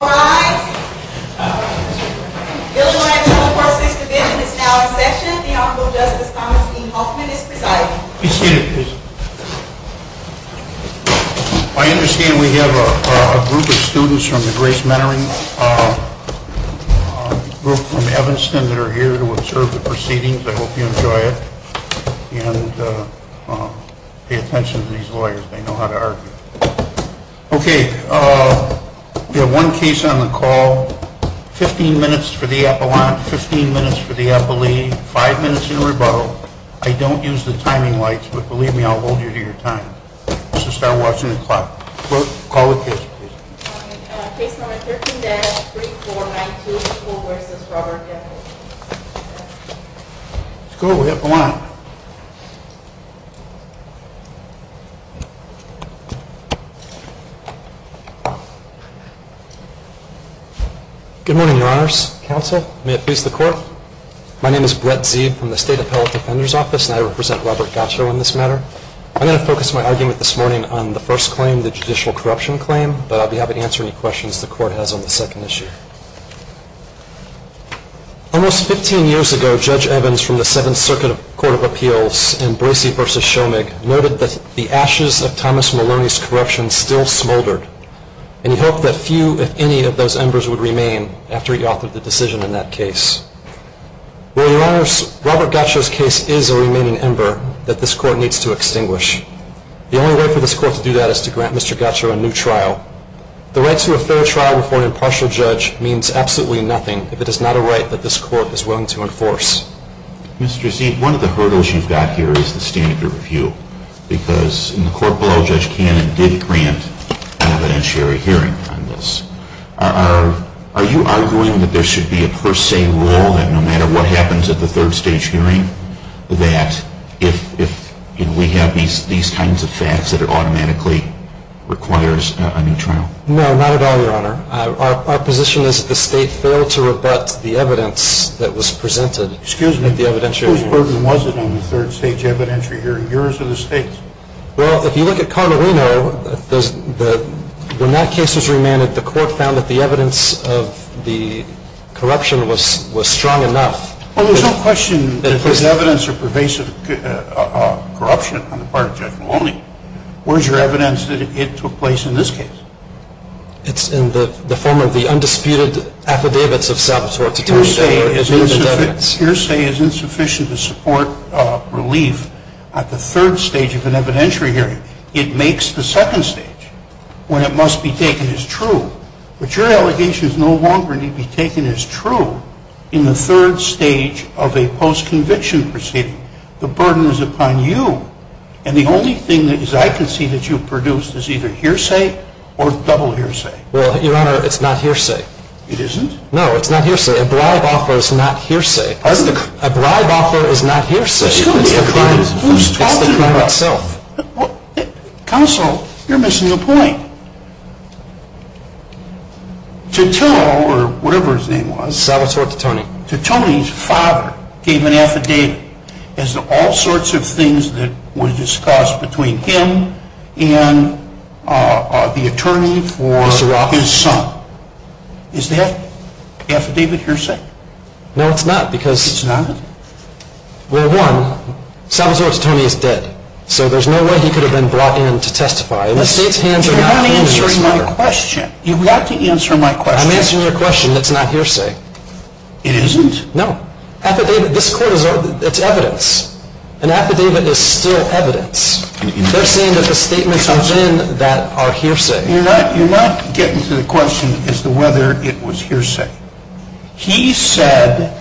I understand we have a group of students from the Grace Mentoring group from Evanston that are here to observe the proceedings. I hope you enjoy it and pay attention to these lawyers. They know how to argue. Okay, we have one case on the call. 15 minutes for the appellant, 15 minutes for the appellee, 5 minutes in rebuttal. I don't use the timing lights, but believe me I'll hold you to your time. Let's just start watching the clock. Call the case please. Case number 13-3492, McCool v. Robert Gacho. Let's go, we have a lot. Good morning, your honors, counsel, may it please the court. My name is Brett Zeeb from the State Appellate Defender's Office and I represent Robert Gacho in this matter. I'm going to focus my argument this morning on the first claim, the judicial corruption claim, but I'll be happy to answer any questions the court has on the second issue. Almost 15 years ago, Judge Evans from the Seventh Circuit Court of Appeals in Boise v. Shomig noted that the ashes of Thomas Maloney's corruption still smoldered and he hoped that few, if any, of those embers would remain after he authored the decision in that case. Well, your honors, Robert Gacho's case is a remaining ember that this court needs to extinguish. The only way for this court to do that is to grant Mr. Gacho a new trial. The right to a third trial before an impartial judge means absolutely nothing if it is not a right that this court is willing to enforce. Mr. Zeeb, one of the hurdles you've got here is the standard of review because in the court below, Judge Cannon did grant an evidentiary hearing on this. Are you arguing that there should be a per se rule that no matter what happens at the third stage hearing that if we have these kinds of facts that it automatically requires a new trial? No, not at all, your honor. Our position is that the state failed to rebut the evidence that was presented at the evidentiary hearings. Excuse me, whose burden was it on the third stage evidentiary hearing? Yours or the state's? Well, if you look at Carderino, when that case was remanded, the court found that the evidence of the corruption was strong enough. Well, there's no question that there's evidence of pervasive corruption on the part of Judge Maloney. Where's your evidence that it took place in this case? It's in the form of the undisputed affidavits of saboteurs. Hearsay is insufficient to support relief at the third stage of an evidentiary hearing. It makes the second stage when it must be taken as true. But your allegation is no longer to be taken as true in the third stage of a post-conviction proceeding. The burden is upon you. And the only thing that I can see that you've produced is either hearsay or double hearsay. Well, your honor, it's not hearsay. It isn't? No, it's not hearsay. A bribe offer is not hearsay. A bribe offer is not hearsay. Excuse me, who's talking? It's the crime itself. Counsel, you're missing the point. Titone, or whatever his name was. Saboteur Titone. Titone's father gave an affidavit as to all sorts of things that were discussed between him and the attorney for his son. Is that affidavit hearsay? No, it's not. It's not? Well, one, Saboteur Titone is dead. So there's no way he could have been brought in to testify. You're not answering my question. You've got to answer my question. I'm answering your question. That's not hearsay. It isn't? No. Affidavit, this court, it's evidence. An affidavit is still evidence. They're saying that the statements within that are hearsay. You're not getting to the question as to whether it was hearsay. He said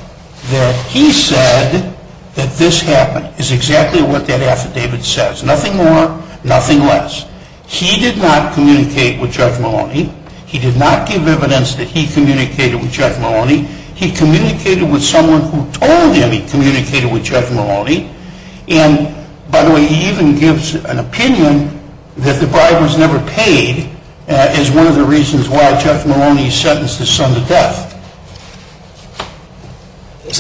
that he said that this happened is exactly what that affidavit says. Nothing more, nothing less. He did not communicate with Judge Maloney. He did not give evidence that he communicated with Judge Maloney. He communicated with someone who told him he communicated with Judge Maloney. And, by the way, he even gives an opinion that the bribe was never paid as one of the reasons why Judge Maloney sentenced his son to death. Is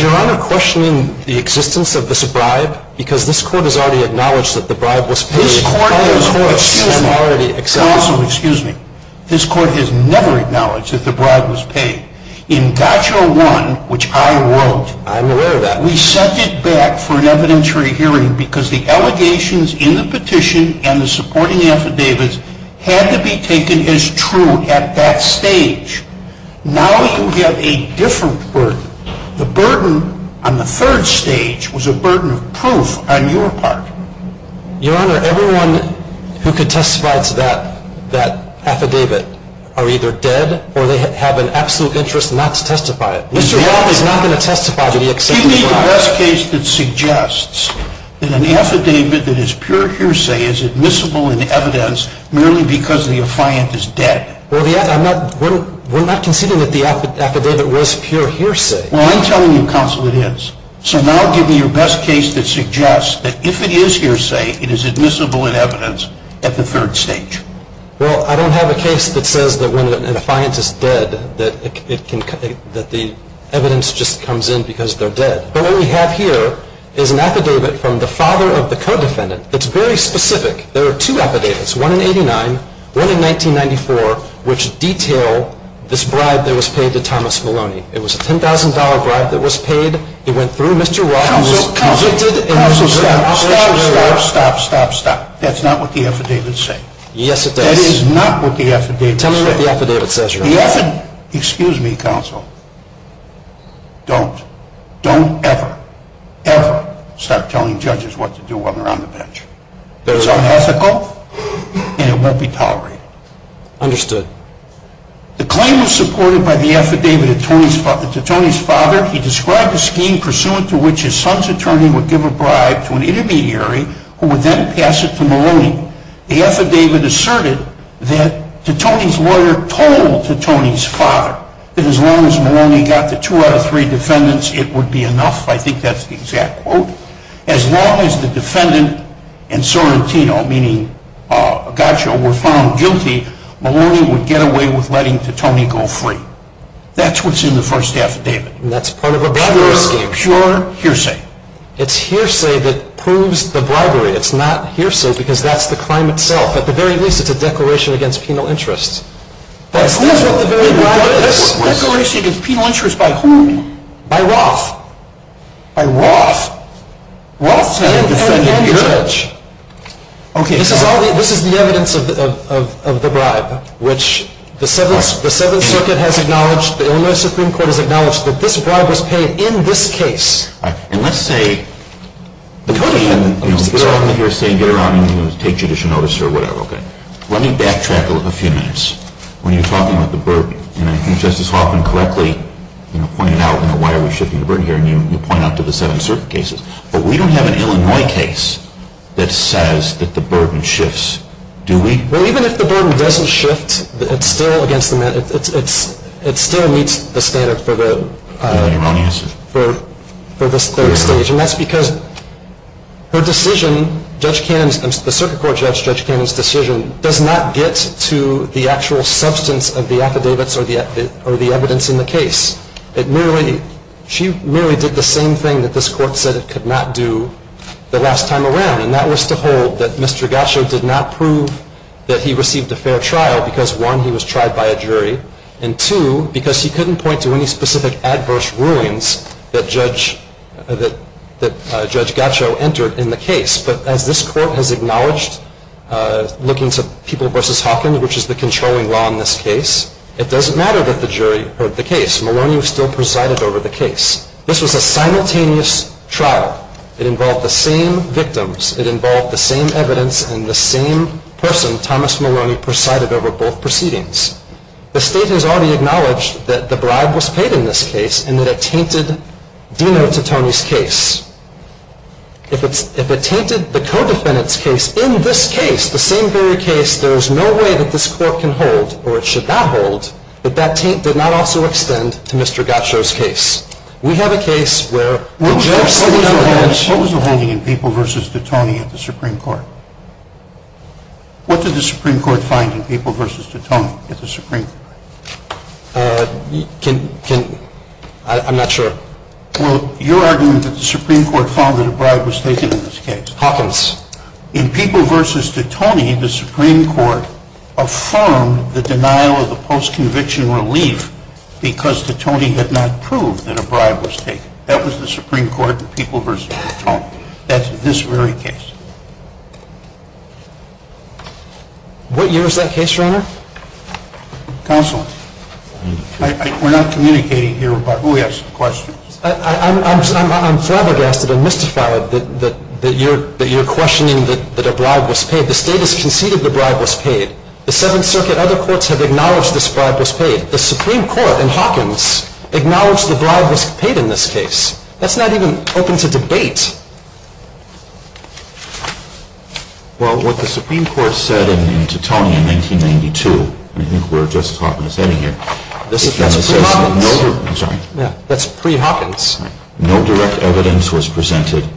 Your Honor questioning the existence of this bribe? Because this court has already acknowledged that the bribe was paid. This court has never acknowledged that the bribe was paid. In GOTCHA 1, which I wrote, we sent it back for an evidentiary hearing because the allegations in the petition and the supporting affidavits had to be taken as true at that stage. Now you have a different burden. The burden on the third stage was a burden of proof on your part. Your Honor, everyone who testifies to that affidavit are either dead or they have an absolute interest not to testify to it. Give me the best case that suggests that an affidavit that is pure hearsay is admissible in evidence merely because the affiant is dead. We're not conceding that the affidavit was pure hearsay. Well, I'm telling you, Counsel, it is. So now give me your best case that suggests that if it is hearsay, it is admissible in evidence at the third stage. Well, I don't have a case that says that when an affiant is dead that the evidence just comes in because they're dead. But what we have here is an affidavit from the father of the co-defendant that's very specific. There are two affidavits, one in 89, one in 1994, which detail this bribe that was paid to Thomas Maloney. It was a $10,000 bribe that was paid. It went through Mr. Roth. Counsel, stop, stop, stop, stop, stop. That's not what the affidavits say. Yes, it does. That is not what the affidavits say. Tell me what the affidavit says. Excuse me, Counsel. Don't, don't ever, ever start telling judges what to do while they're on the bench. It's unethical and it won't be tolerated. Understood. The claim was supported by the affidavit to Tony's father. He described a scheme pursuant to which his son's attorney would give a bribe to an intermediary who would then pass it to Maloney. The affidavit asserted that to Tony's lawyer told to Tony's father that as long as Maloney got the two out of three defendants, it would be enough. I think that's the exact quote. As long as the defendant and Sorrentino, meaning Gaccio, were found guilty, Maloney would get away with letting Tony go free. That's what's in the first affidavit. And that's part of a bribery scheme. Pure hearsay. It's hearsay that proves the bribery. It's not hearsay because that's the crime itself. At the very least, it's a declaration against penal interest. That's what the very bribe is. Declaration against penal interest by whom? By Roth. By Roth? Roth and the judge. This is the evidence of the bribe, which the Seventh Circuit has acknowledged, the Illinois Supreme Court has acknowledged that this bribe was paid in this case. Let me backtrack a few minutes. When you're talking about the burden, and I think Justice Hoffman correctly pointed out, why are we shifting the burden here, and you point out to the Seventh Circuit cases, but we don't have an Illinois case that says that the burden shifts. Do we? Well, even if the burden doesn't shift, it still meets the standard for the... Do you have your own answer? Yes. And that's because her decision, the circuit court judge Judge Cannon's decision, does not get to the actual substance of the affidavits or the evidence in the case. She merely did the same thing that this court said it could not do the last time around, and that was to hold that Mr. Gasho did not prove that he received a fair trial because, one, he was tried by a jury, and, two, because he couldn't point to any specific adverse rulings that Judge Gasho entered in the case. But as this court has acknowledged, looking to People v. Hawkins, which is the controlling law in this case, it doesn't matter that the jury heard the case. Maloney was still presided over the case. This was a simultaneous trial. It involved the same victims. It involved the same evidence and the same person, Thomas Maloney, presided over both proceedings. The state has already acknowledged that the bribe was paid in this case and that it tainted Dino Titone's case. If it tainted the co-defendant's case in this case, the same very case, there is no way that this court can hold, or it should not hold, that that taint did not also extend to Mr. Gasho's case. We have a case where the judge said, What was the holding in People v. Titone at the Supreme Court? What did the Supreme Court find in People v. Titone? I'm not sure. Well, your argument is that the Supreme Court found that a bribe was taken in this case. Hawkins. In People v. Titone, the Supreme Court affirmed the denial of the post-conviction relief because Titone had not proved that a bribe was taken. That was the Supreme Court in People v. Titone. What year is that case, Your Honor? Counsel. We're not communicating here, but we have some questions. I'm flabbergasted and mystified that you're questioning that a bribe was paid. The State has conceded the bribe was paid. The Seventh Circuit and other courts have acknowledged this bribe was paid. The Supreme Court in Hawkins acknowledged the bribe was paid in this case. That's not even open to debate. Well, what the Supreme Court said in Titone in 1992, and I think we're just talking this out of here. That's pre-Hawkins. I'm sorry. Yeah, that's pre-Hawkins. No direct evidence was presented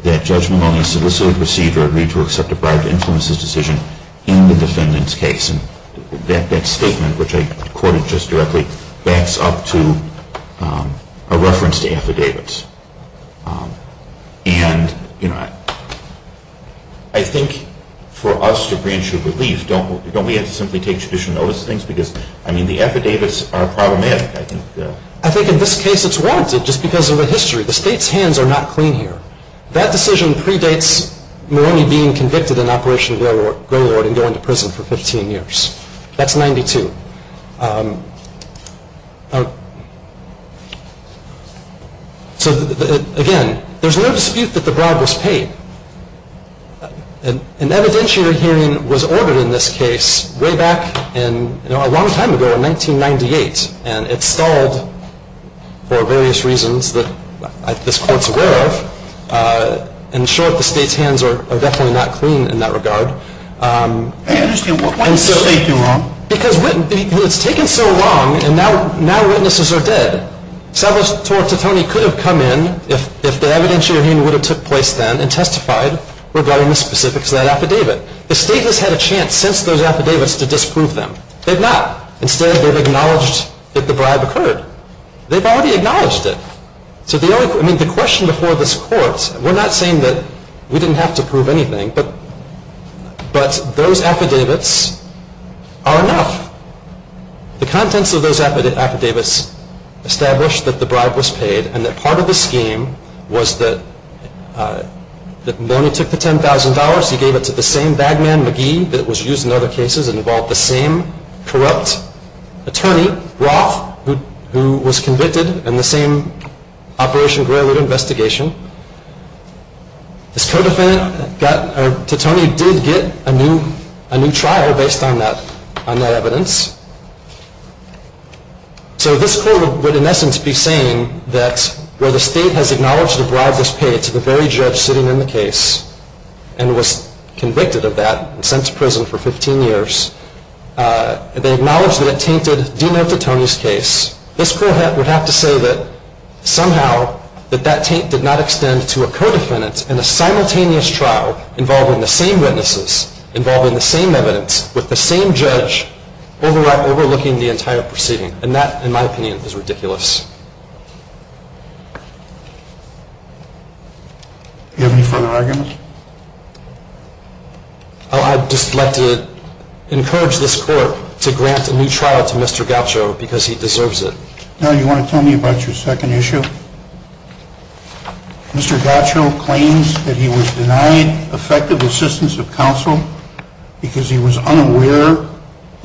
that Judge Maloney solicited, received, or agreed to accept a bribe to influence his decision in the defendant's case. That statement, which I quoted just directly, backs up to a reference to affidavits. And, you know, I think for us to grant you relief, don't we have to simply take judicial notice of things? Because, I mean, the affidavits are problematic, I think. I think in this case it's warranted just because of the history. The State's hands are not clean here. That decision predates Maloney being convicted in Operation Go-Lord and going to prison for 15 years. That's 92. So, again, there's no dispute that the bribe was paid. An evidentiary hearing was ordered in this case way back in, you know, a long time ago, in 1998, and it stalled for various reasons that this Court's aware of. In short, the State's hands are definitely not clean in that regard. I understand. Why did the State do wrong? Because it's taken so long, and now witnesses are dead. Salvatore Titone could have come in, if the evidentiary hearing would have took place then, and testified regarding the specifics of that affidavit. The State has had a chance since those affidavits to disprove them. They've not. Instead, they've acknowledged that the bribe occurred. They've already acknowledged it. I mean, the question before this Court, we're not saying that we didn't have to prove anything, but those affidavits are enough. The contents of those affidavits establish that the bribe was paid, and that part of the scheme was that when he took the $10,000, he gave it to the same bagman, McGee, that was used in other cases and involved the same corrupt attorney, Roth, who was convicted in the same Operation Greyloot investigation. This co-defendant, Titone, did get a new trial based on that evidence. So this Court would, in essence, be saying that where the State has acknowledged the bribe was paid to the very judge sitting in the case, and was convicted of that and sent to prison for 15 years, they acknowledge that it tainted Dino Titone's case. This Court would have to say that somehow that that taint did not extend to a co-defendant in a simultaneous trial involving the same witnesses, involving the same evidence, with the same judge, overlooking the entire proceeding. And that, in my opinion, is ridiculous. Do you have any further arguments? I'd just like to encourage this Court to grant a new trial to Mr. Gaucho because he deserves it. Now, do you want to tell me about your second issue? Mr. Gaucho claims that he was denied effective assistance of counsel because he was unaware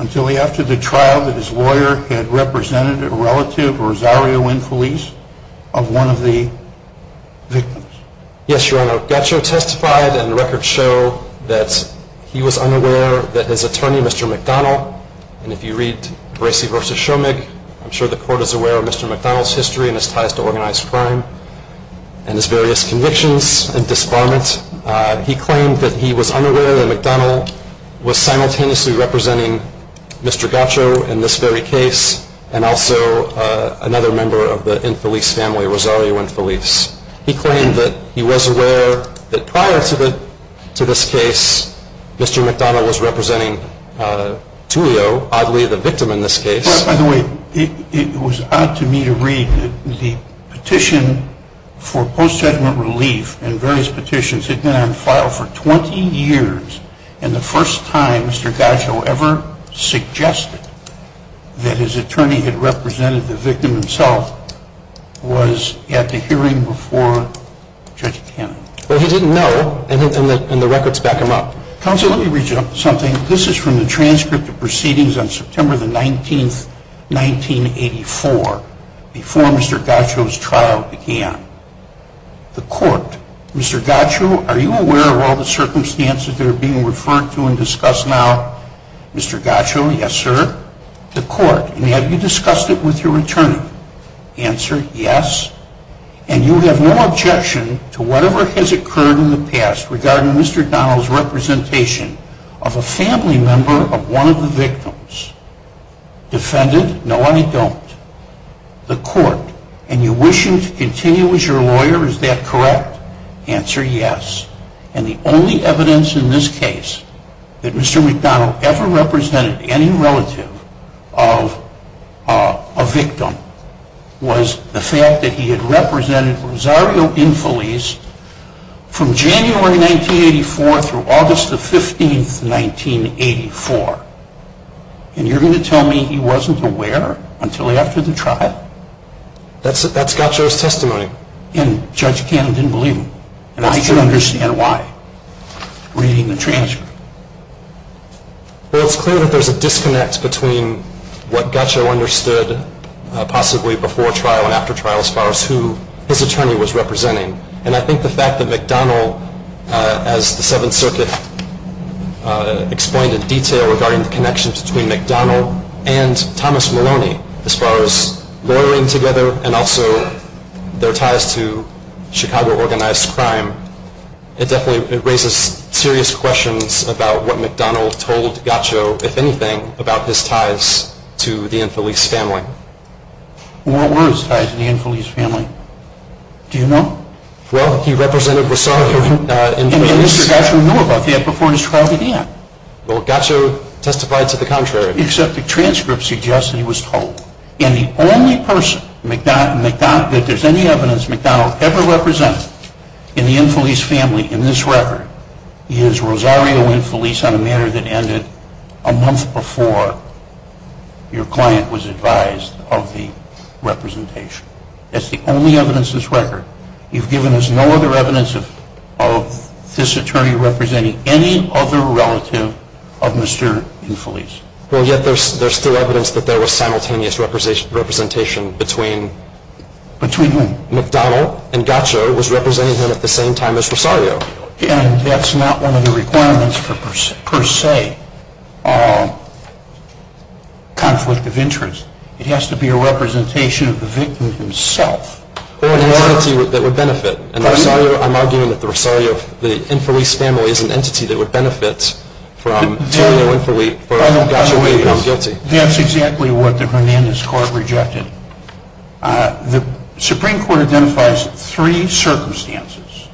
until after the trial that his lawyer had represented a relative of Rosario and Feliz of one of the victims. Yes, Your Honor. Gaucho testified, and the records show that he was unaware that his attorney, Mr. McDonald, and if you read Bracey v. Schoemig, I'm sure the Court is aware of Mr. McDonald's history and his ties to organized crime and his various convictions and disbarments. He claimed that he was unaware that McDonald was simultaneously representing Mr. Gaucho in this very case and also another member of the Feliz family, Rosario and Feliz. He claimed that he was aware that prior to this case, Mr. McDonald was representing Tullio, oddly the victim in this case. Your Honor, by the way, it was odd to me to read that the petition for post-judgment relief and various petitions had been on file for 20 years and the first time Mr. Gaucho ever suggested that his attorney had represented the victim himself was at the hearing before Judge Cannon. Well, he didn't know, and the records back him up. Counsel, let me read you something. This is from the transcript of proceedings on September 19, 1984 before Mr. Gaucho's trial began. The Court, Mr. Gaucho, are you aware of all the circumstances that are being referred to and discussed now? Mr. Gaucho, yes, sir. The Court, have you discussed it with your attorney? Answer, yes. And you have no objection to whatever has occurred in the past regarding Mr. McDonald's representation of a family member of one of the victims. Defendant, no, I don't. The Court, and you wish him to continue as your lawyer, is that correct? Answer, yes. And the only evidence in this case that Mr. McDonald ever represented any relative of a victim was the fact that he had represented Rosario Infeliz from January 1984 through August 15, 1984. And you're going to tell me he wasn't aware until after the trial? That's Gaucho's testimony. And Judge Cannon didn't believe him. And I can understand why, reading the transcript. Well, it's clear that there's a disconnect between what Gaucho understood possibly before trial and after trial as far as who his attorney was representing. And I think the fact that McDonald, as the Seventh Circuit explained in detail regarding the connections between McDonald and Thomas Maloney as far as lawyering together and also their ties to Chicago organized crime, it definitely raises serious questions about what McDonald told Gaucho, if anything, about his ties to the Infeliz family. What were his ties to the Infeliz family? Do you know? Well, he represented Rosario Infeliz. And Mr. Gaucho knew about that before his trial began. Well, Gaucho testified to the contrary. Except the transcript suggests that he was told. And the only person that there's any evidence McDonald ever represented in the Infeliz family in this record is Rosario Infeliz on a matter that ended a month before your client was advised of the representation. That's the only evidence in this record. You've given us no other evidence of this attorney representing any other relative of Mr. Infeliz. Well, yet there's still evidence that there was simultaneous representation between McDonald and Gaucho was representing him at the same time as Rosario. And that's not one of the requirements per se. It's not a conflict of interest. It has to be a representation of the victim himself. Or an entity that would benefit. I'm arguing that the Rosario, the Infeliz family is an entity that would benefit from telling the Infeliz that Gaucho was guilty. That's exactly what the Hernandez Court rejected. The Supreme Court identifies three circumstances.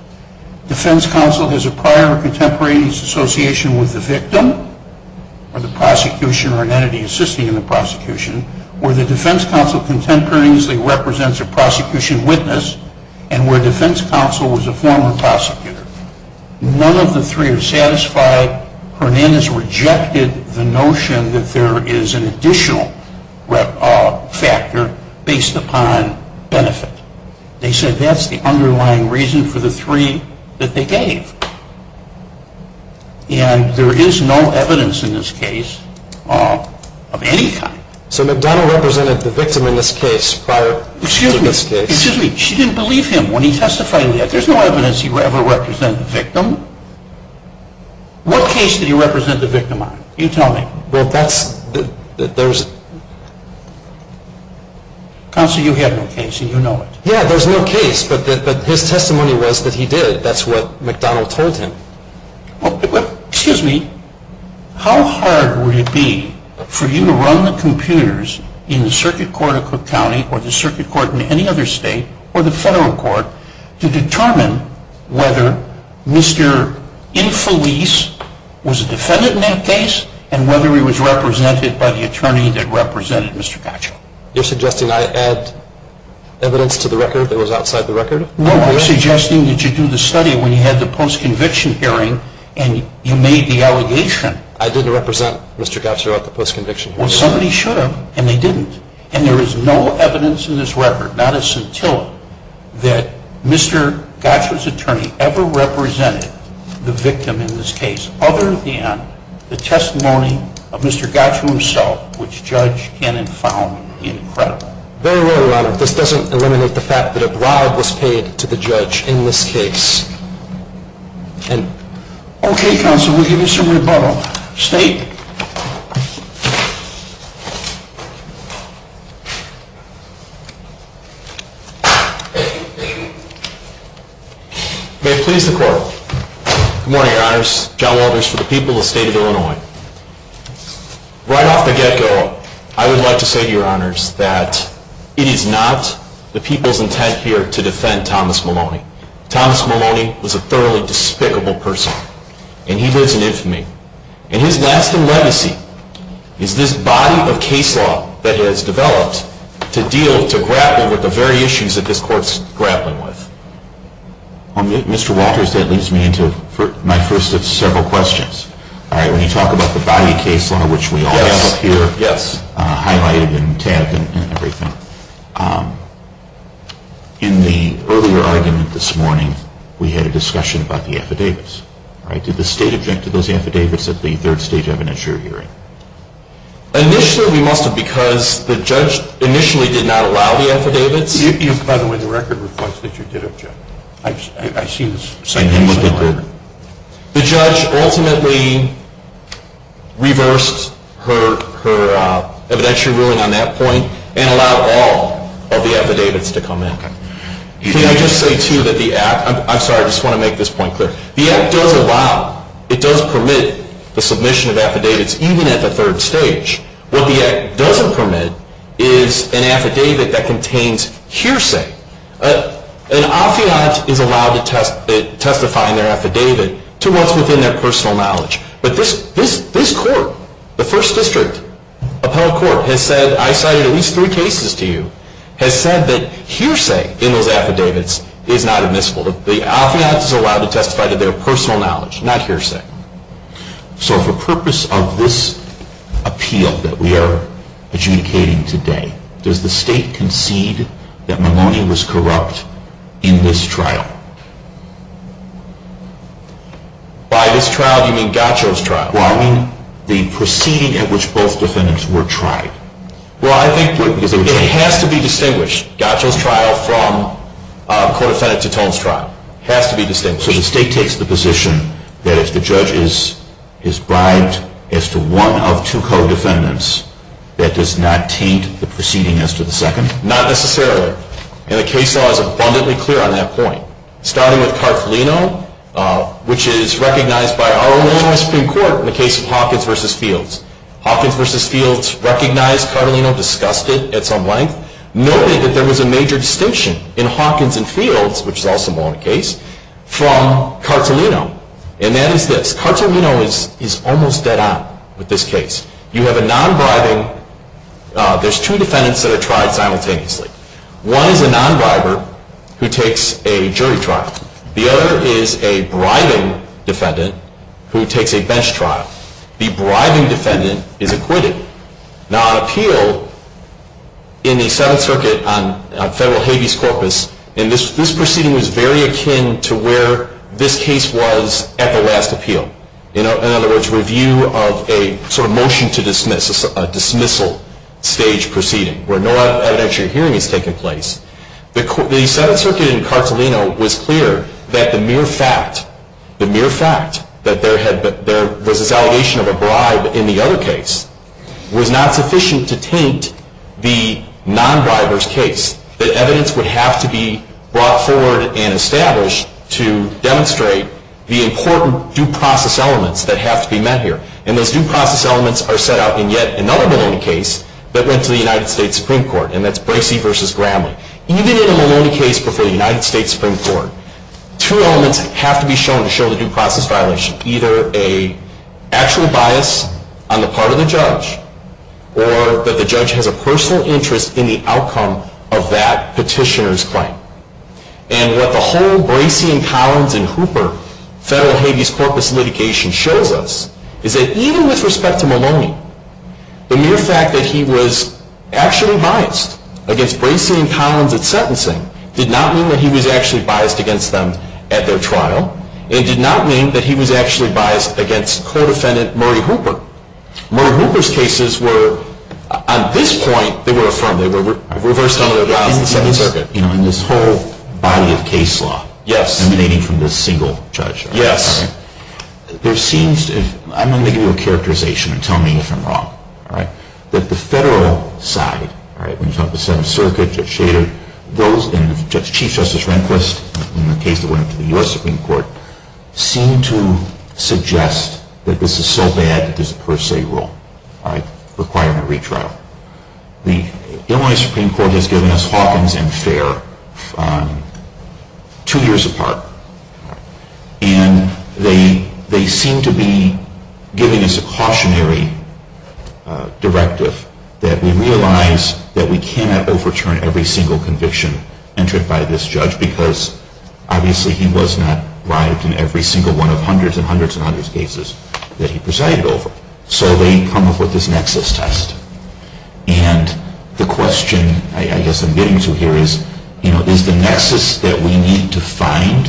Defense counsel has a prior contemporaneous association with the victim or the prosecution or an entity assisting in the prosecution where the defense counsel contemporaneously represents a prosecution witness and where defense counsel was a former prosecutor. None of the three are satisfied. Hernandez rejected the notion that there is an additional factor based upon benefit. They said that's the underlying reason for the three that they gave. And there is no evidence in this case of any kind. So McDonald represented the victim in this case prior to this case? Excuse me. She didn't believe him when he testified in that. There's no evidence he ever represented the victim. What case did he represent the victim on? You tell me. Well, that's, there's. Counsel, you have no case and you know it. Yeah, there's no case, but his testimony was that he did. That's what McDonald told him. Well, excuse me. How hard would it be for you to run the computers in the circuit court of Cook County or the circuit court in any other state or the federal court to determine whether Mr. Infeliz was a defendant in that case and whether he was represented by the attorney that represented Mr. Gottschalk? You're suggesting I add evidence to the record that was outside the record? No, I'm suggesting that you do the study when you had the post-conviction hearing and you made the allegation. I didn't represent Mr. Gottschalk at the post-conviction hearing. Well, somebody should have, and they didn't. And there is no evidence in this record, not a scintilla, that Mr. Gottschalk's attorney ever represented the victim in this case other than the testimony of Mr. Gottschalk himself, which Judge Cannon found incredible. Very well, Your Honor. This doesn't eliminate the fact that a bribe was paid to the judge in this case. Okay, counsel, we'll give you some rebuttal. State. May it please the Court. Good morning, Your Honors. John Walters for the people of the State of Illinois. Right off the get-go, I would like to say to Your Honors that it is not the people's intent here to defend Thomas Maloney. Thomas Maloney was a thoroughly despicable person, and he lives in infamy. And his lasting legacy is this body of case law that has developed to deal, to grapple with the very issues that this Court's grappling with. Well, Mr. Walters, that leads me into my first of several questions. All right, when you talk about the body of case law, which we all have up here, highlighted and tabbed and everything, in the earlier argument this morning, we had a discussion about the affidavits. Did the State object to those affidavits at the third stage evidentiary hearing? Initially, we must have, because the judge initially did not allow the affidavits. This is, by the way, the record request that you did object. I see this simultaneously. The judge ultimately reversed her evidentiary ruling on that point and allowed all of the affidavits to come in. Can I just say, too, that the act—I'm sorry, I just want to make this point clear. The act does allow, it does permit the submission of affidavits even at the third stage. What the act doesn't permit is an affidavit that contains hearsay. An affiant is allowed to testify in their affidavit to what's within their personal knowledge. But this Court, the First District Appellate Court, has said, I cited at least three cases to you, has said that hearsay in those affidavits is not admissible. The affiant is allowed to testify to their personal knowledge, not hearsay. So for purpose of this appeal that we are adjudicating today, does the State concede that Maloney was corrupt in this trial? By this trial, you mean Gaccio's trial? Well, I mean the proceeding at which both defendants were tried. Well, I think— It has to be distinguished. Gaccio's trial from a co-defendant Titone's trial has to be distinguished. So the State takes the position that if the judge is bribed as to one of two co-defendants, that does not taint the proceeding as to the second? Not necessarily. And the case law is abundantly clear on that point. Starting with Cartolino, which is recognized by our own Illinois Supreme Court in the case of Hawkins v. Fields. Hawkins v. Fields recognized Cartolino, discussed it at some length, noted that there was a major distinction in Hawkins v. Fields, which is also Maloney's case, from Cartolino. And that is this. Cartolino is almost dead on with this case. You have a non-bribing—there's two defendants that are tried simultaneously. One is a non-briber who takes a jury trial. The other is a bribing defendant who takes a bench trial. The bribing defendant is acquitted. Now, an appeal in the Seventh Circuit on federal habeas corpus, and this proceeding was very akin to where this case was at the last appeal. In other words, review of a sort of motion to dismiss, a dismissal stage proceeding, where no evidentiary hearing has taken place. The Seventh Circuit in Cartolino was clear that the mere fact, the mere fact that there was this allegation of a bribe in the other case was not sufficient to taint the non-briber's case. That evidence would have to be brought forward and established to demonstrate the important due process elements that have to be met here. And those due process elements are set out in yet another Maloney case that went to the United States Supreme Court, and that's Bracey v. Gramley. Even in a Maloney case before the United States Supreme Court, two elements have to be shown to show the due process violation. Either an actual bias on the part of the judge, or that the judge has a personal interest in the outcome of that petitioner's claim. And what the whole Bracey and Collins and Hooper federal habeas corpus litigation shows us is that even with respect to Maloney, the mere fact that he was actually biased against Bracey and Collins at sentencing did not mean that he was actually biased against them at their trial, and did not mean that he was actually biased against co-defendant Murray Hooper. Murray Hooper's cases were, at this point, they were affirmed. They were reversed under the laws of the Seventh Circuit. In this whole body of case law, emanating from this single judge? Yes. I'm going to give you a characterization and tell me if I'm wrong. That the federal side, when you talk about the Seventh Circuit, Judge Shader, and Chief Justice Rehnquist, in the case that went up to the U.S. Supreme Court, seem to suggest that this is so bad that there's a per se rule requiring a retrial. The Illinois Supreme Court has given us Hawkins and Fair two years apart. And they seem to be giving us a cautionary directive that we realize that we cannot overturn every single conviction entered by this judge because obviously he was not bribed in every single one of hundreds and hundreds and hundreds of cases that he presided over. So they come up with this nexus test. And the question I guess I'm getting to here is, is the nexus that we need to find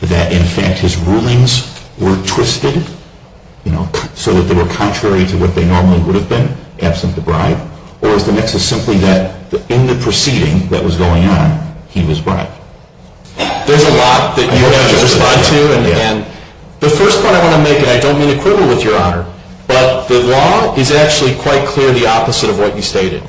that in fact his rulings were twisted so that they were contrary to what they normally would have been, absent the bribe? Or is the nexus simply that in the proceeding that was going on, he was bribed? There's a lot that you have to respond to. And the first point I want to make, and I don't mean to quibble with Your Honor, but the law is actually quite clear the opposite of what you stated.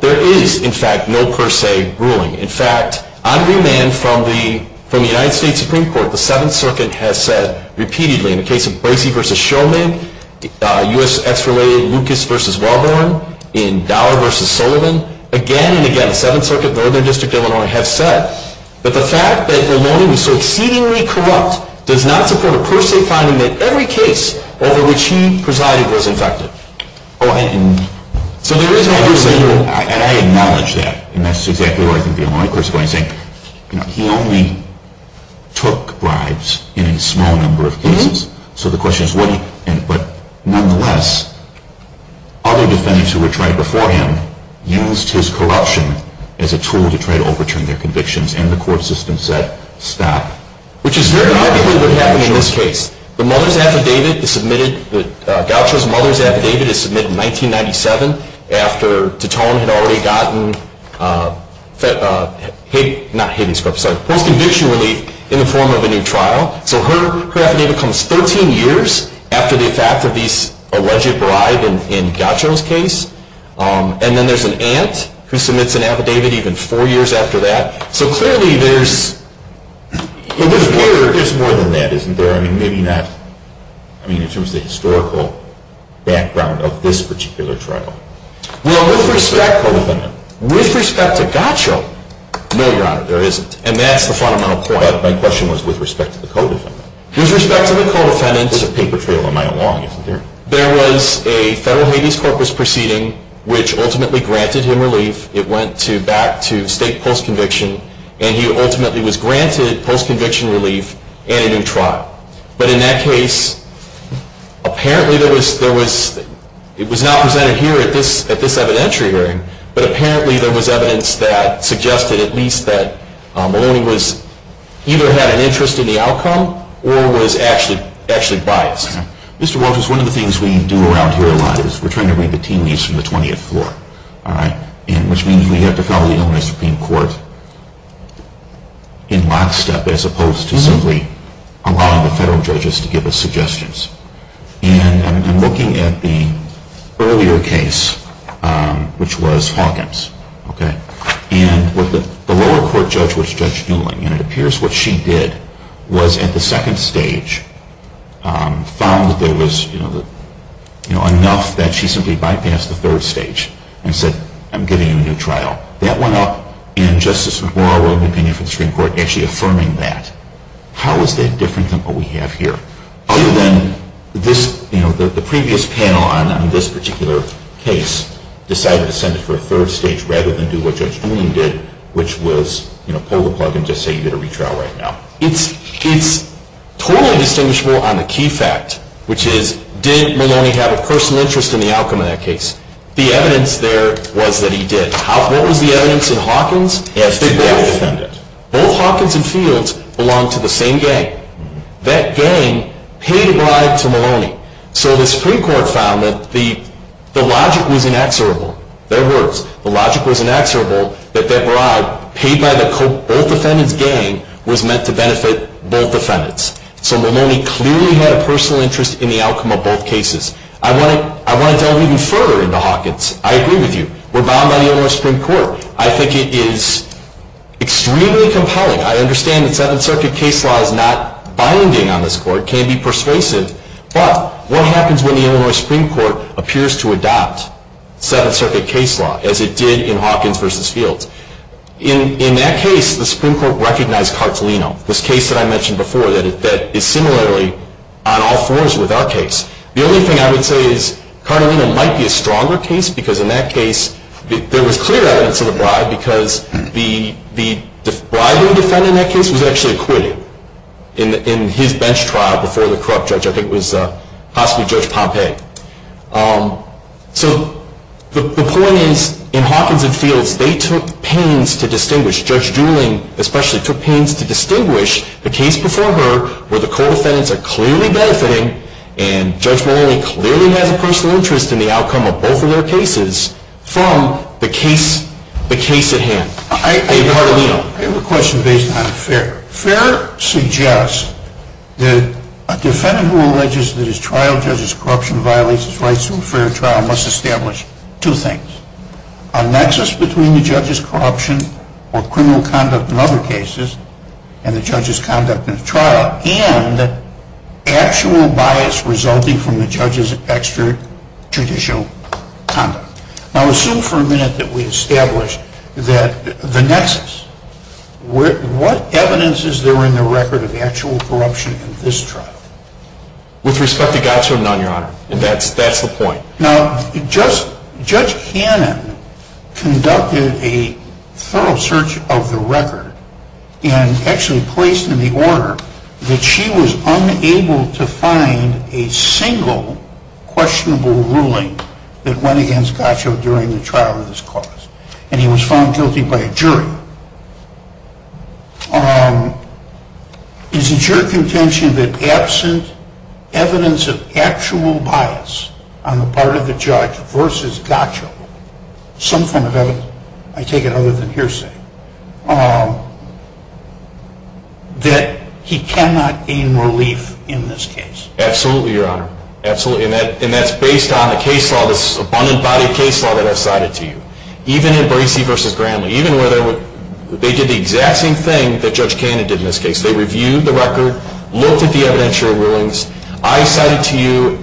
There is, in fact, no per se ruling. In fact, on remand from the United States Supreme Court, the Seventh Circuit has said repeatedly in the case of Bracey v. Shulman, U.S. ex-related Lucas v. Wellborn, in Dollar v. Sullivan, again and again, the Seventh Circuit and the Northern District of Illinois have said that the fact that Ramon was so exceedingly corrupt does not support a per se finding that every case over which he presided was infected. And I acknowledge that, and that's exactly what I think the Illinois court is going to say. He only took bribes in a small number of cases. So the question is, but nonetheless, other defendants who were tried before him used his corruption as a tool to try to overturn their convictions, and the court system said, stop. Which is very likely what happened in this case. The Gaucho's mother's affidavit is submitted in 1997 after Titone had already gotten post-conviction relief in the form of a new trial. So her affidavit comes 13 years after the fact of these alleged bribes in Gaucho's case. And then there's an aunt who submits an affidavit even four years after that. So clearly there's more than that, isn't there? I mean, maybe not in terms of the historical background of this particular trial. Well, with respect to Gaucho, no, Your Honor, there isn't. And that's the fundamental point. My question was with respect to the co-defendant. With respect to the co-defendant. There's a paper trail a mile long, isn't there? There was a federal Hades Corpus proceeding which ultimately granted him relief. It went back to state post-conviction. And he ultimately was granted post-conviction relief and a new trial. But in that case, apparently it was not presented here at this evidentiary hearing, but apparently there was evidence that suggested at least that Maloney either had an interest in the outcome or was actually biased. Mr. Walters, one of the things we do around here a lot is we're trying to read the teen leaves from the 20th floor. All right? Which means we have to follow the Illinois Supreme Court in lockstep as opposed to simply allowing the federal judges to give us suggestions. And I'm looking at the earlier case, which was Hawkins. Okay? And the lower court judge was Judge Newling. And it appears what she did was at the second stage found that there was, you know, enough that she simply bypassed the third stage and said, I'm giving you a new trial. That went up, and Justice McGraw wrote an opinion for the Supreme Court actually affirming that. How is that different than what we have here? Other than this, you know, the previous panel on this particular case decided to send it for a third stage rather than do what Judge Newling did, which was, you know, pull the plug and just say you did a retrial right now. It's totally distinguishable on the key fact, which is did Maloney have a personal interest in the outcome of that case? The evidence there was that he did. What was the evidence in Hawkins? Both Hawkins and Fields belonged to the same gang. That gang paid a bribe to Maloney. So the Supreme Court found that the logic was inexorable. In other words, the logic was inexorable that that bribe paid by both defendants' gang was meant to benefit both defendants. So Maloney clearly had a personal interest in the outcome of both cases. I want to delve even further into Hawkins. I agree with you. We're bound by the Illinois Supreme Court. I think it is extremely compelling. I understand that Seventh Circuit case law is not binding on this court. It can be persuasive. But what happens when the Illinois Supreme Court appears to adopt Seventh Circuit case law as it did in Hawkins v. Fields? In that case, the Supreme Court recognized Cartolino, this case that I mentioned before that is similarly on all fours with our case. The only thing I would say is Cartolino might be a stronger case because in that case there was clear evidence of the bribe because the bribing defendant in that case was actually acquitted in his bench trial before the corrupt judge. I think it was possibly Judge Pompey. So the point is in Hawkins v. Fields they took pains to distinguish. Judge Dooling especially took pains to distinguish the case before her where the co-defendants are clearly benefiting and Judge Maloney clearly has a personal interest in the outcome of both of their cases from the case at hand. I have a question based on Fair. Fair suggests that a defendant who alleges that his trial judge's corruption violates his rights to a fair trial must establish two things. A nexus between the judge's corruption or criminal conduct in other cases and the judge's conduct in the trial. And actual bias resulting from the judge's extrajudicial conduct. Now assume for a minute that we establish the nexus. What evidence is there in the record of actual corruption in this trial? With respect to God so known, Your Honor. That's the point. Now Judge Cannon conducted a thorough search of the record and actually placed in the order that she was unable to find a single questionable ruling that went against Godshoe during the trial of this cause. And he was found guilty by a jury. Is it your contention that absent evidence of actual bias on the part of the judge versus Godshoe, some form of evidence, I take it other than hearsay, that he cannot gain relief in this case? Absolutely, Your Honor. Absolutely. And that's based on a case law, this abundant body case law that I've cited to you. Even in Bracey versus Gramley, even where they did the exact same thing that Judge Cannon did in this case. They reviewed the record, looked at the evidentiary rulings. I cited to you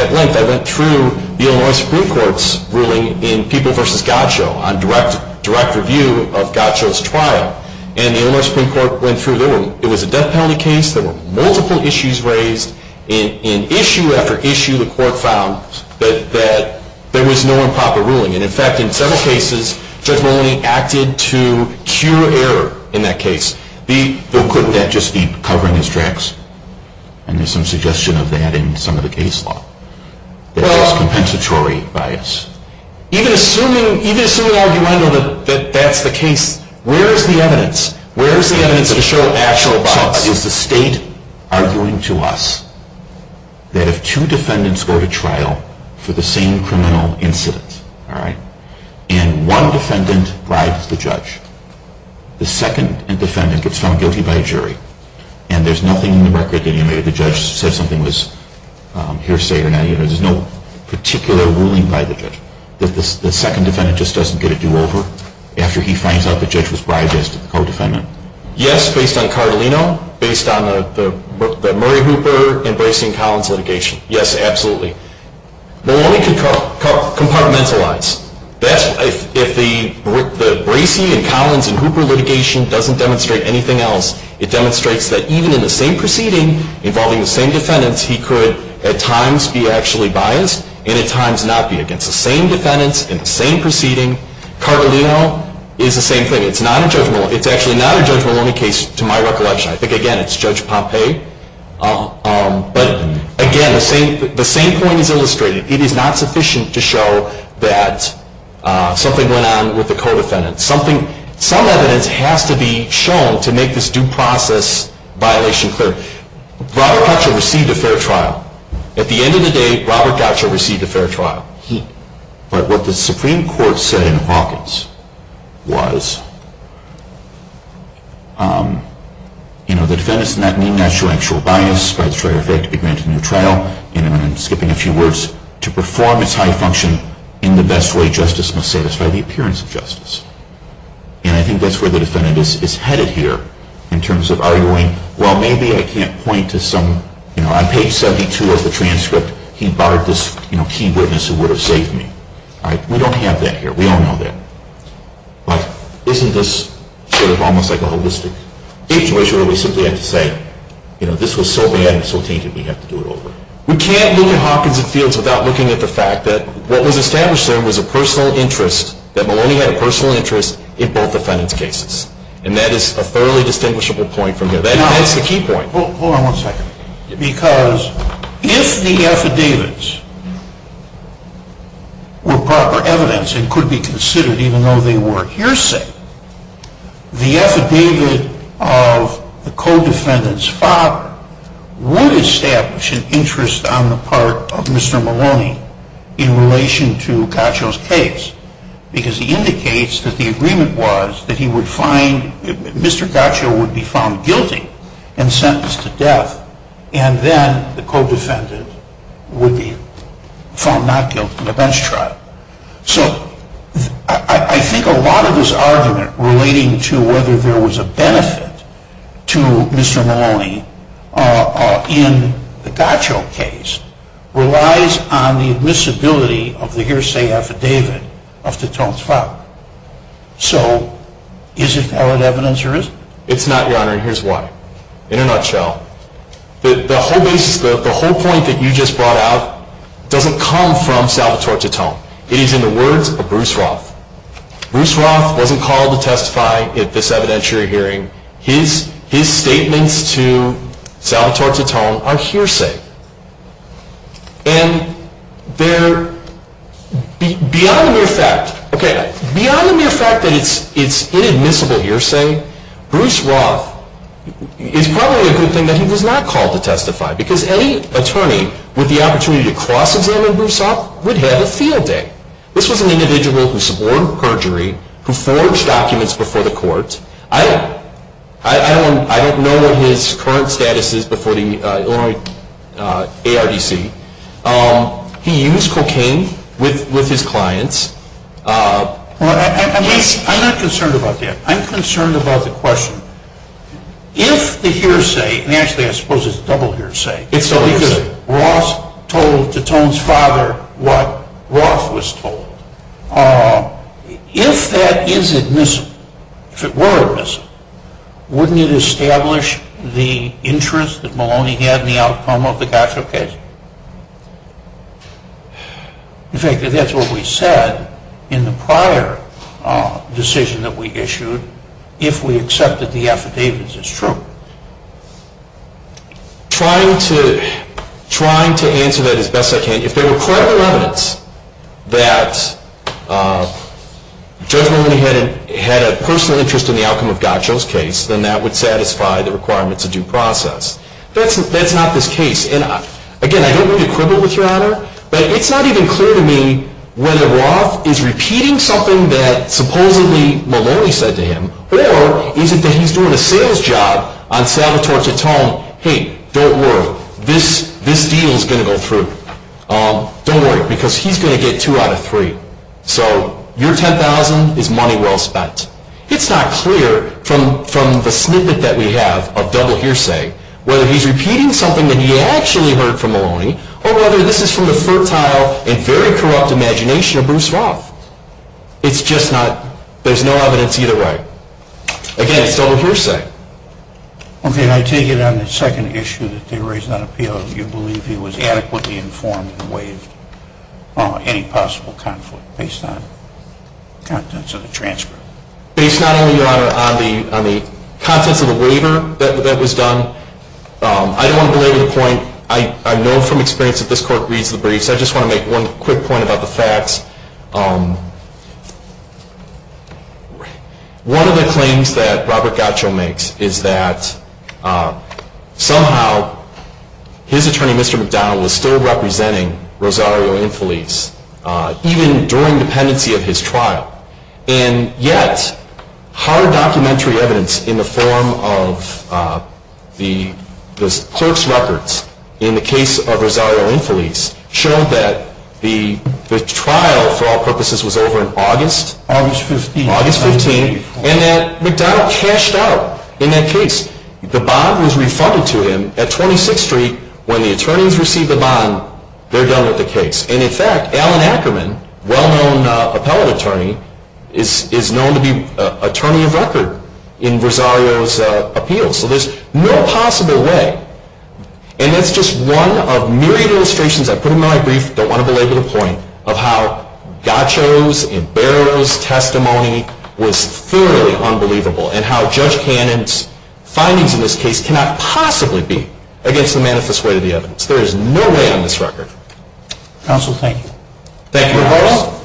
at length, I went through the Illinois Supreme Court's ruling in People versus Godshoe on direct review of Godshoe's trial. And the Illinois Supreme Court went through. It was a death penalty case. There were multiple issues raised. And issue after issue, the court found that there was no improper ruling. And in fact, in several cases, the judge only acted to cure error in that case. Couldn't that just be covering his tracks? And there's some suggestion of that in some of the case law. That's just compensatory bias. Even assuming an argument that that's the case, where is the evidence? Where is the evidence to show actual bias? Is the state arguing to us that if two defendants go to trial for the same criminal incident, and one defendant bribes the judge, the second defendant gets found guilty by a jury, and there's nothing in the record that the judge said something was hearsay or not. There's no particular ruling by the judge. The second defendant just doesn't get a do-over after he finds out the judge was bribed as to the co-defendant. Yes, based on Carlino. Based on the Murray Hooper and Bracey and Collins litigation. Yes, absolutely. Maloney could compartmentalize. If the Bracey and Collins and Hooper litigation doesn't demonstrate anything else, it demonstrates that even in the same proceeding involving the same defendants, he could at times be actually biased, and at times not be. Against the same defendants in the same proceeding, Carlino is the same thing. It's actually not a Judge Maloney case to my recollection. I think, again, it's Judge Pompei. But, again, the same point is illustrated. It is not sufficient to show that something went on with the co-defendant. Some evidence has to be shown to make this due process violation clear. Robert Gottschall received a fair trial. At the end of the day, Robert Gottschall received a fair trial. But what the Supreme Court said in Hawkins was, you know, the defendants in that need not show actual bias, but it's a fair effect to be granted a new trial. And I'm skipping a few words. To perform its high function in the best way, justice must satisfy the appearance of justice. And I think that's where the defendant is headed here in terms of arguing, well, maybe I can't point to some, you know, on page 72 of the transcript, he barred this, you know, key witness who would have saved me. All right? We don't have that here. We don't know that. But isn't this sort of almost like a holistic situation where we simply have to say, you know, this was so bad and so tainted we have to do it over? We can't look at Hawkins and Fields without looking at the fact that what was established there was a personal interest, that Maloney had a personal interest in both defendants' cases. And that is a fairly distinguishable point from here. That's the key point. Hold on one second. Because if the affidavits were proper evidence and could be considered even though they were hearsay, the affidavit of the co-defendant's father would establish an interest on the part of Mr. Maloney in relation to Gaccio's case because he indicates that the agreement was that he would find, Mr. Gaccio would be found guilty and sentenced to death and then the co-defendant would be found not guilty in the bench trial. So I think a lot of this argument relating to whether there was a benefit to Mr. Maloney in the Gaccio case relies on the admissibility of the hearsay affidavit of the detainee's father. So is it valid evidence or is it not? It's not, Your Honor, and here's why. In a nutshell, the whole point that you just brought out doesn't come from Salvatore Titone. It is in the words of Bruce Roth. Bruce Roth wasn't called to testify at this evidentiary hearing. His statements to Salvatore Titone are hearsay. And beyond the mere fact that it's inadmissible hearsay, Bruce Roth is probably a good thing that he was not called to testify because any attorney with the opportunity to cross-examine Bruce Roth would have a field day. This was an individual who suborned perjury, who forged documents before the court. I don't know what his current status is before the ARDC. He used cocaine with his clients. I'm not concerned about that. I'm concerned about the question. If the hearsay, and actually I suppose it's a double hearsay, because Roth told Titone's father what Roth was told, if that is admissible, if it were admissible, wouldn't it establish the interest that Maloney had in the outcome of the gotcha case? In fact, that's what we said in the prior decision that we issued if we accepted the affidavits as true. Trying to answer that as best I can, if there were credible evidence that Judge Maloney had a personal interest in the outcome of Gotcho's case, then that would satisfy the requirements of due process. That's not this case. Again, I don't want to quibble with Your Honor, but it's not even clear to me whether Roth is repeating something that supposedly Maloney said to him, or is it that he's doing a sales job on Salvatore Titone, hey, don't worry, this deal is going to go through. Don't worry, because he's going to get two out of three. So your $10,000 is money well spent. It's not clear from the snippet that we have of double hearsay whether he's repeating something that he actually heard from Maloney, or whether this is from the fertile and very corrupt imagination of Bruce Roth. It's just not, there's no evidence either way. Again, it's double hearsay. Okay, and I take it on the second issue that they raised on appeal, you believe he was adequately informed in the way of any possible conflict, based on contents of the transcript. Based not only, Your Honor, on the contents of the waiver that was done, I don't want to belabor the point. I know from experience that this Court reads the brief, so I just want to make one quick point about the facts. One of the claims that Robert Gatcho makes is that somehow his attorney, Mr. McDonald, was still representing Rosario Infeliz, even during dependency of his trial. And yet, hard documentary evidence in the form of the clerk's records in the case of Rosario Infeliz showed that the trial for all purposes was over in August, August 15, and that McDonald cashed out in that case. The bond was refunded to him at 26th Street. When the attorneys receive the bond, they're done with the case. And in fact, Alan Ackerman, well-known appellate attorney, is known to be attorney of record in Rosario's appeals. So there's no possible way, and that's just one of myriad illustrations I put in my brief, don't want to belabor the point, of how Gatcho's and Barrow's testimony was thoroughly unbelievable and how Judge Cannon's findings in this case cannot possibly be against the manifest way of the evidence. There is no way on this record. Counsel, thank you. Thank you. Mr. Barrow.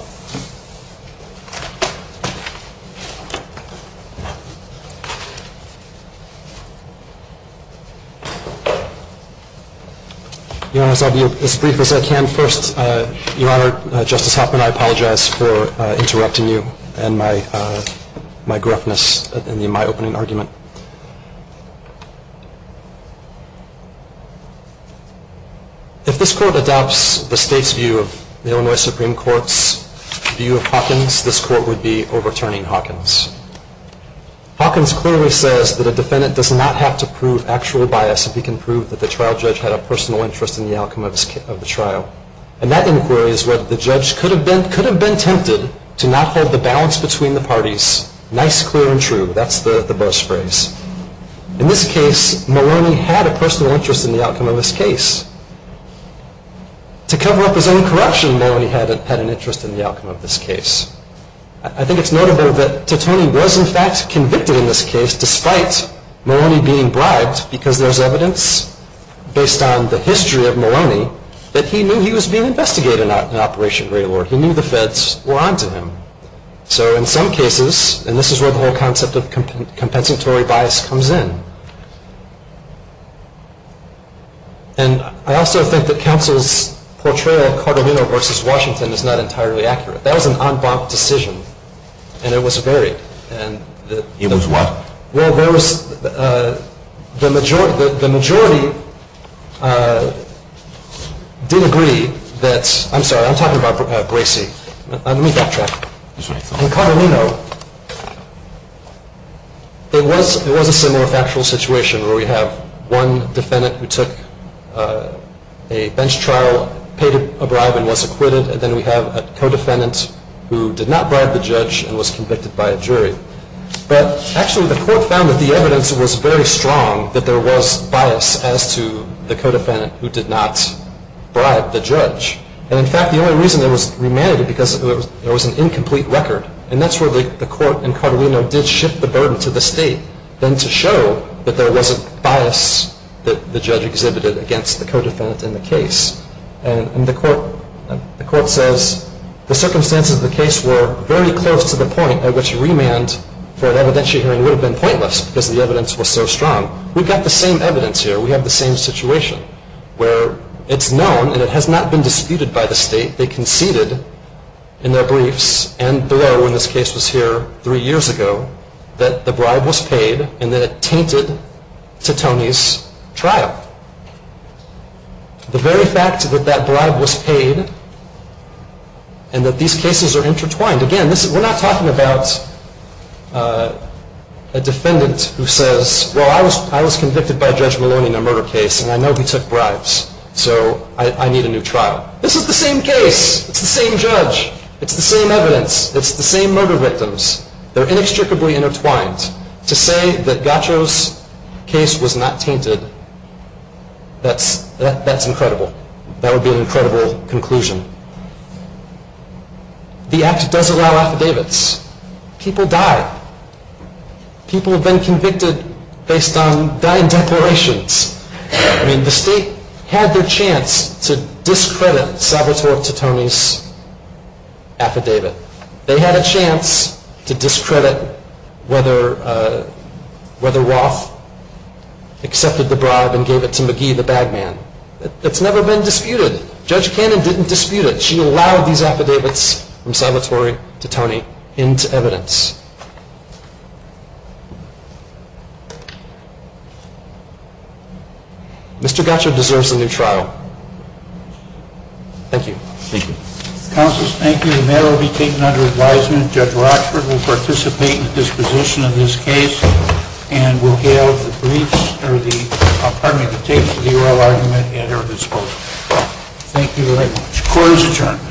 Your Honor, I'll be as brief as I can. First, Your Honor, Justice Hoffman, I apologize for interrupting you and my gruffness in my opening argument. If this Court adopts the State's view of the Illinois Supreme Court's view of Hawkins, this Court would be overturning Hawkins. Hawkins clearly says that a defendant does not have to prove actual bias if he can prove that the trial judge had a personal interest in the outcome of the trial. And that inquiry is whether the judge could have been tempted to not hold the balance between the parties nice, clear, and true. That's the buzz phrase. In this case, Maloney had a personal interest in the outcome of this case. To cover up his own corruption, Maloney had an interest in the outcome of this case. I think it's notable that Titone was in fact convicted in this case despite Maloney being bribed because there's evidence based on the history of Maloney that he knew he was being investigated in Operation Greylord. He knew the feds were onto him. So in some cases, and this is where the whole concept of compensatory bias comes in, and I also think that counsel's portrayal of Cardamone versus Washington is not entirely accurate. That was an en banc decision, and it was varied. It was what? Well, the majority did agree that, I'm sorry, I'm talking about Bracey. Let me backtrack. In Cardamone, though, it was a similar factual situation where we have one defendant who took a bench trial, paid a bribe, and was acquitted, and then we have a co-defendant who did not bribe the judge and was convicted by a jury. But actually the court found that the evidence was very strong that there was bias as to the co-defendant who did not bribe the judge. And, in fact, the only reason it was remanded because there was an incomplete record, and that's where the court in Cardamone did shift the burden to the state then to show that there was a bias that the judge exhibited against the co-defendant in the case. And the court says the circumstances of the case were very close to the point at which remand for an evidentiary hearing would have been pointless because the evidence was so strong. We've got the same evidence here. We have the same situation where it's known, and it has not been disputed by the state, they conceded in their briefs and below when this case was here three years ago that the bribe was paid and that it tainted to Tony's trial. The very fact that that bribe was paid and that these cases are intertwined, again, we're not talking about a defendant who says, well, I was convicted by Judge Maloney in a murder case, and I know he took bribes, so I need a new trial. This is the same case. It's the same judge. It's the same evidence. It's the same murder victims. They're inextricably intertwined. To say that Gaccio's case was not tainted, that's incredible. That would be an incredible conclusion. The Act does allow affidavits. People die. People have been convicted based on dying declarations. I mean, the state had their chance to discredit Salvatore Titone's affidavit. They had a chance to discredit whether Roth accepted the bribe and gave it to McGee, the bag man. It's never been disputed. Judge Cannon didn't dispute it. She allowed these affidavits from Salvatore Titone into evidence. Mr. Gaccio deserves a new trial. Thank you. Thank you. Counselors, thank you. The matter will be taken under advisement. Judge Rockford will participate in the disposition of this case and will have the briefs or the – pardon me, the tapes of the oral argument at her disposal. Thank you very much. Court is adjourned.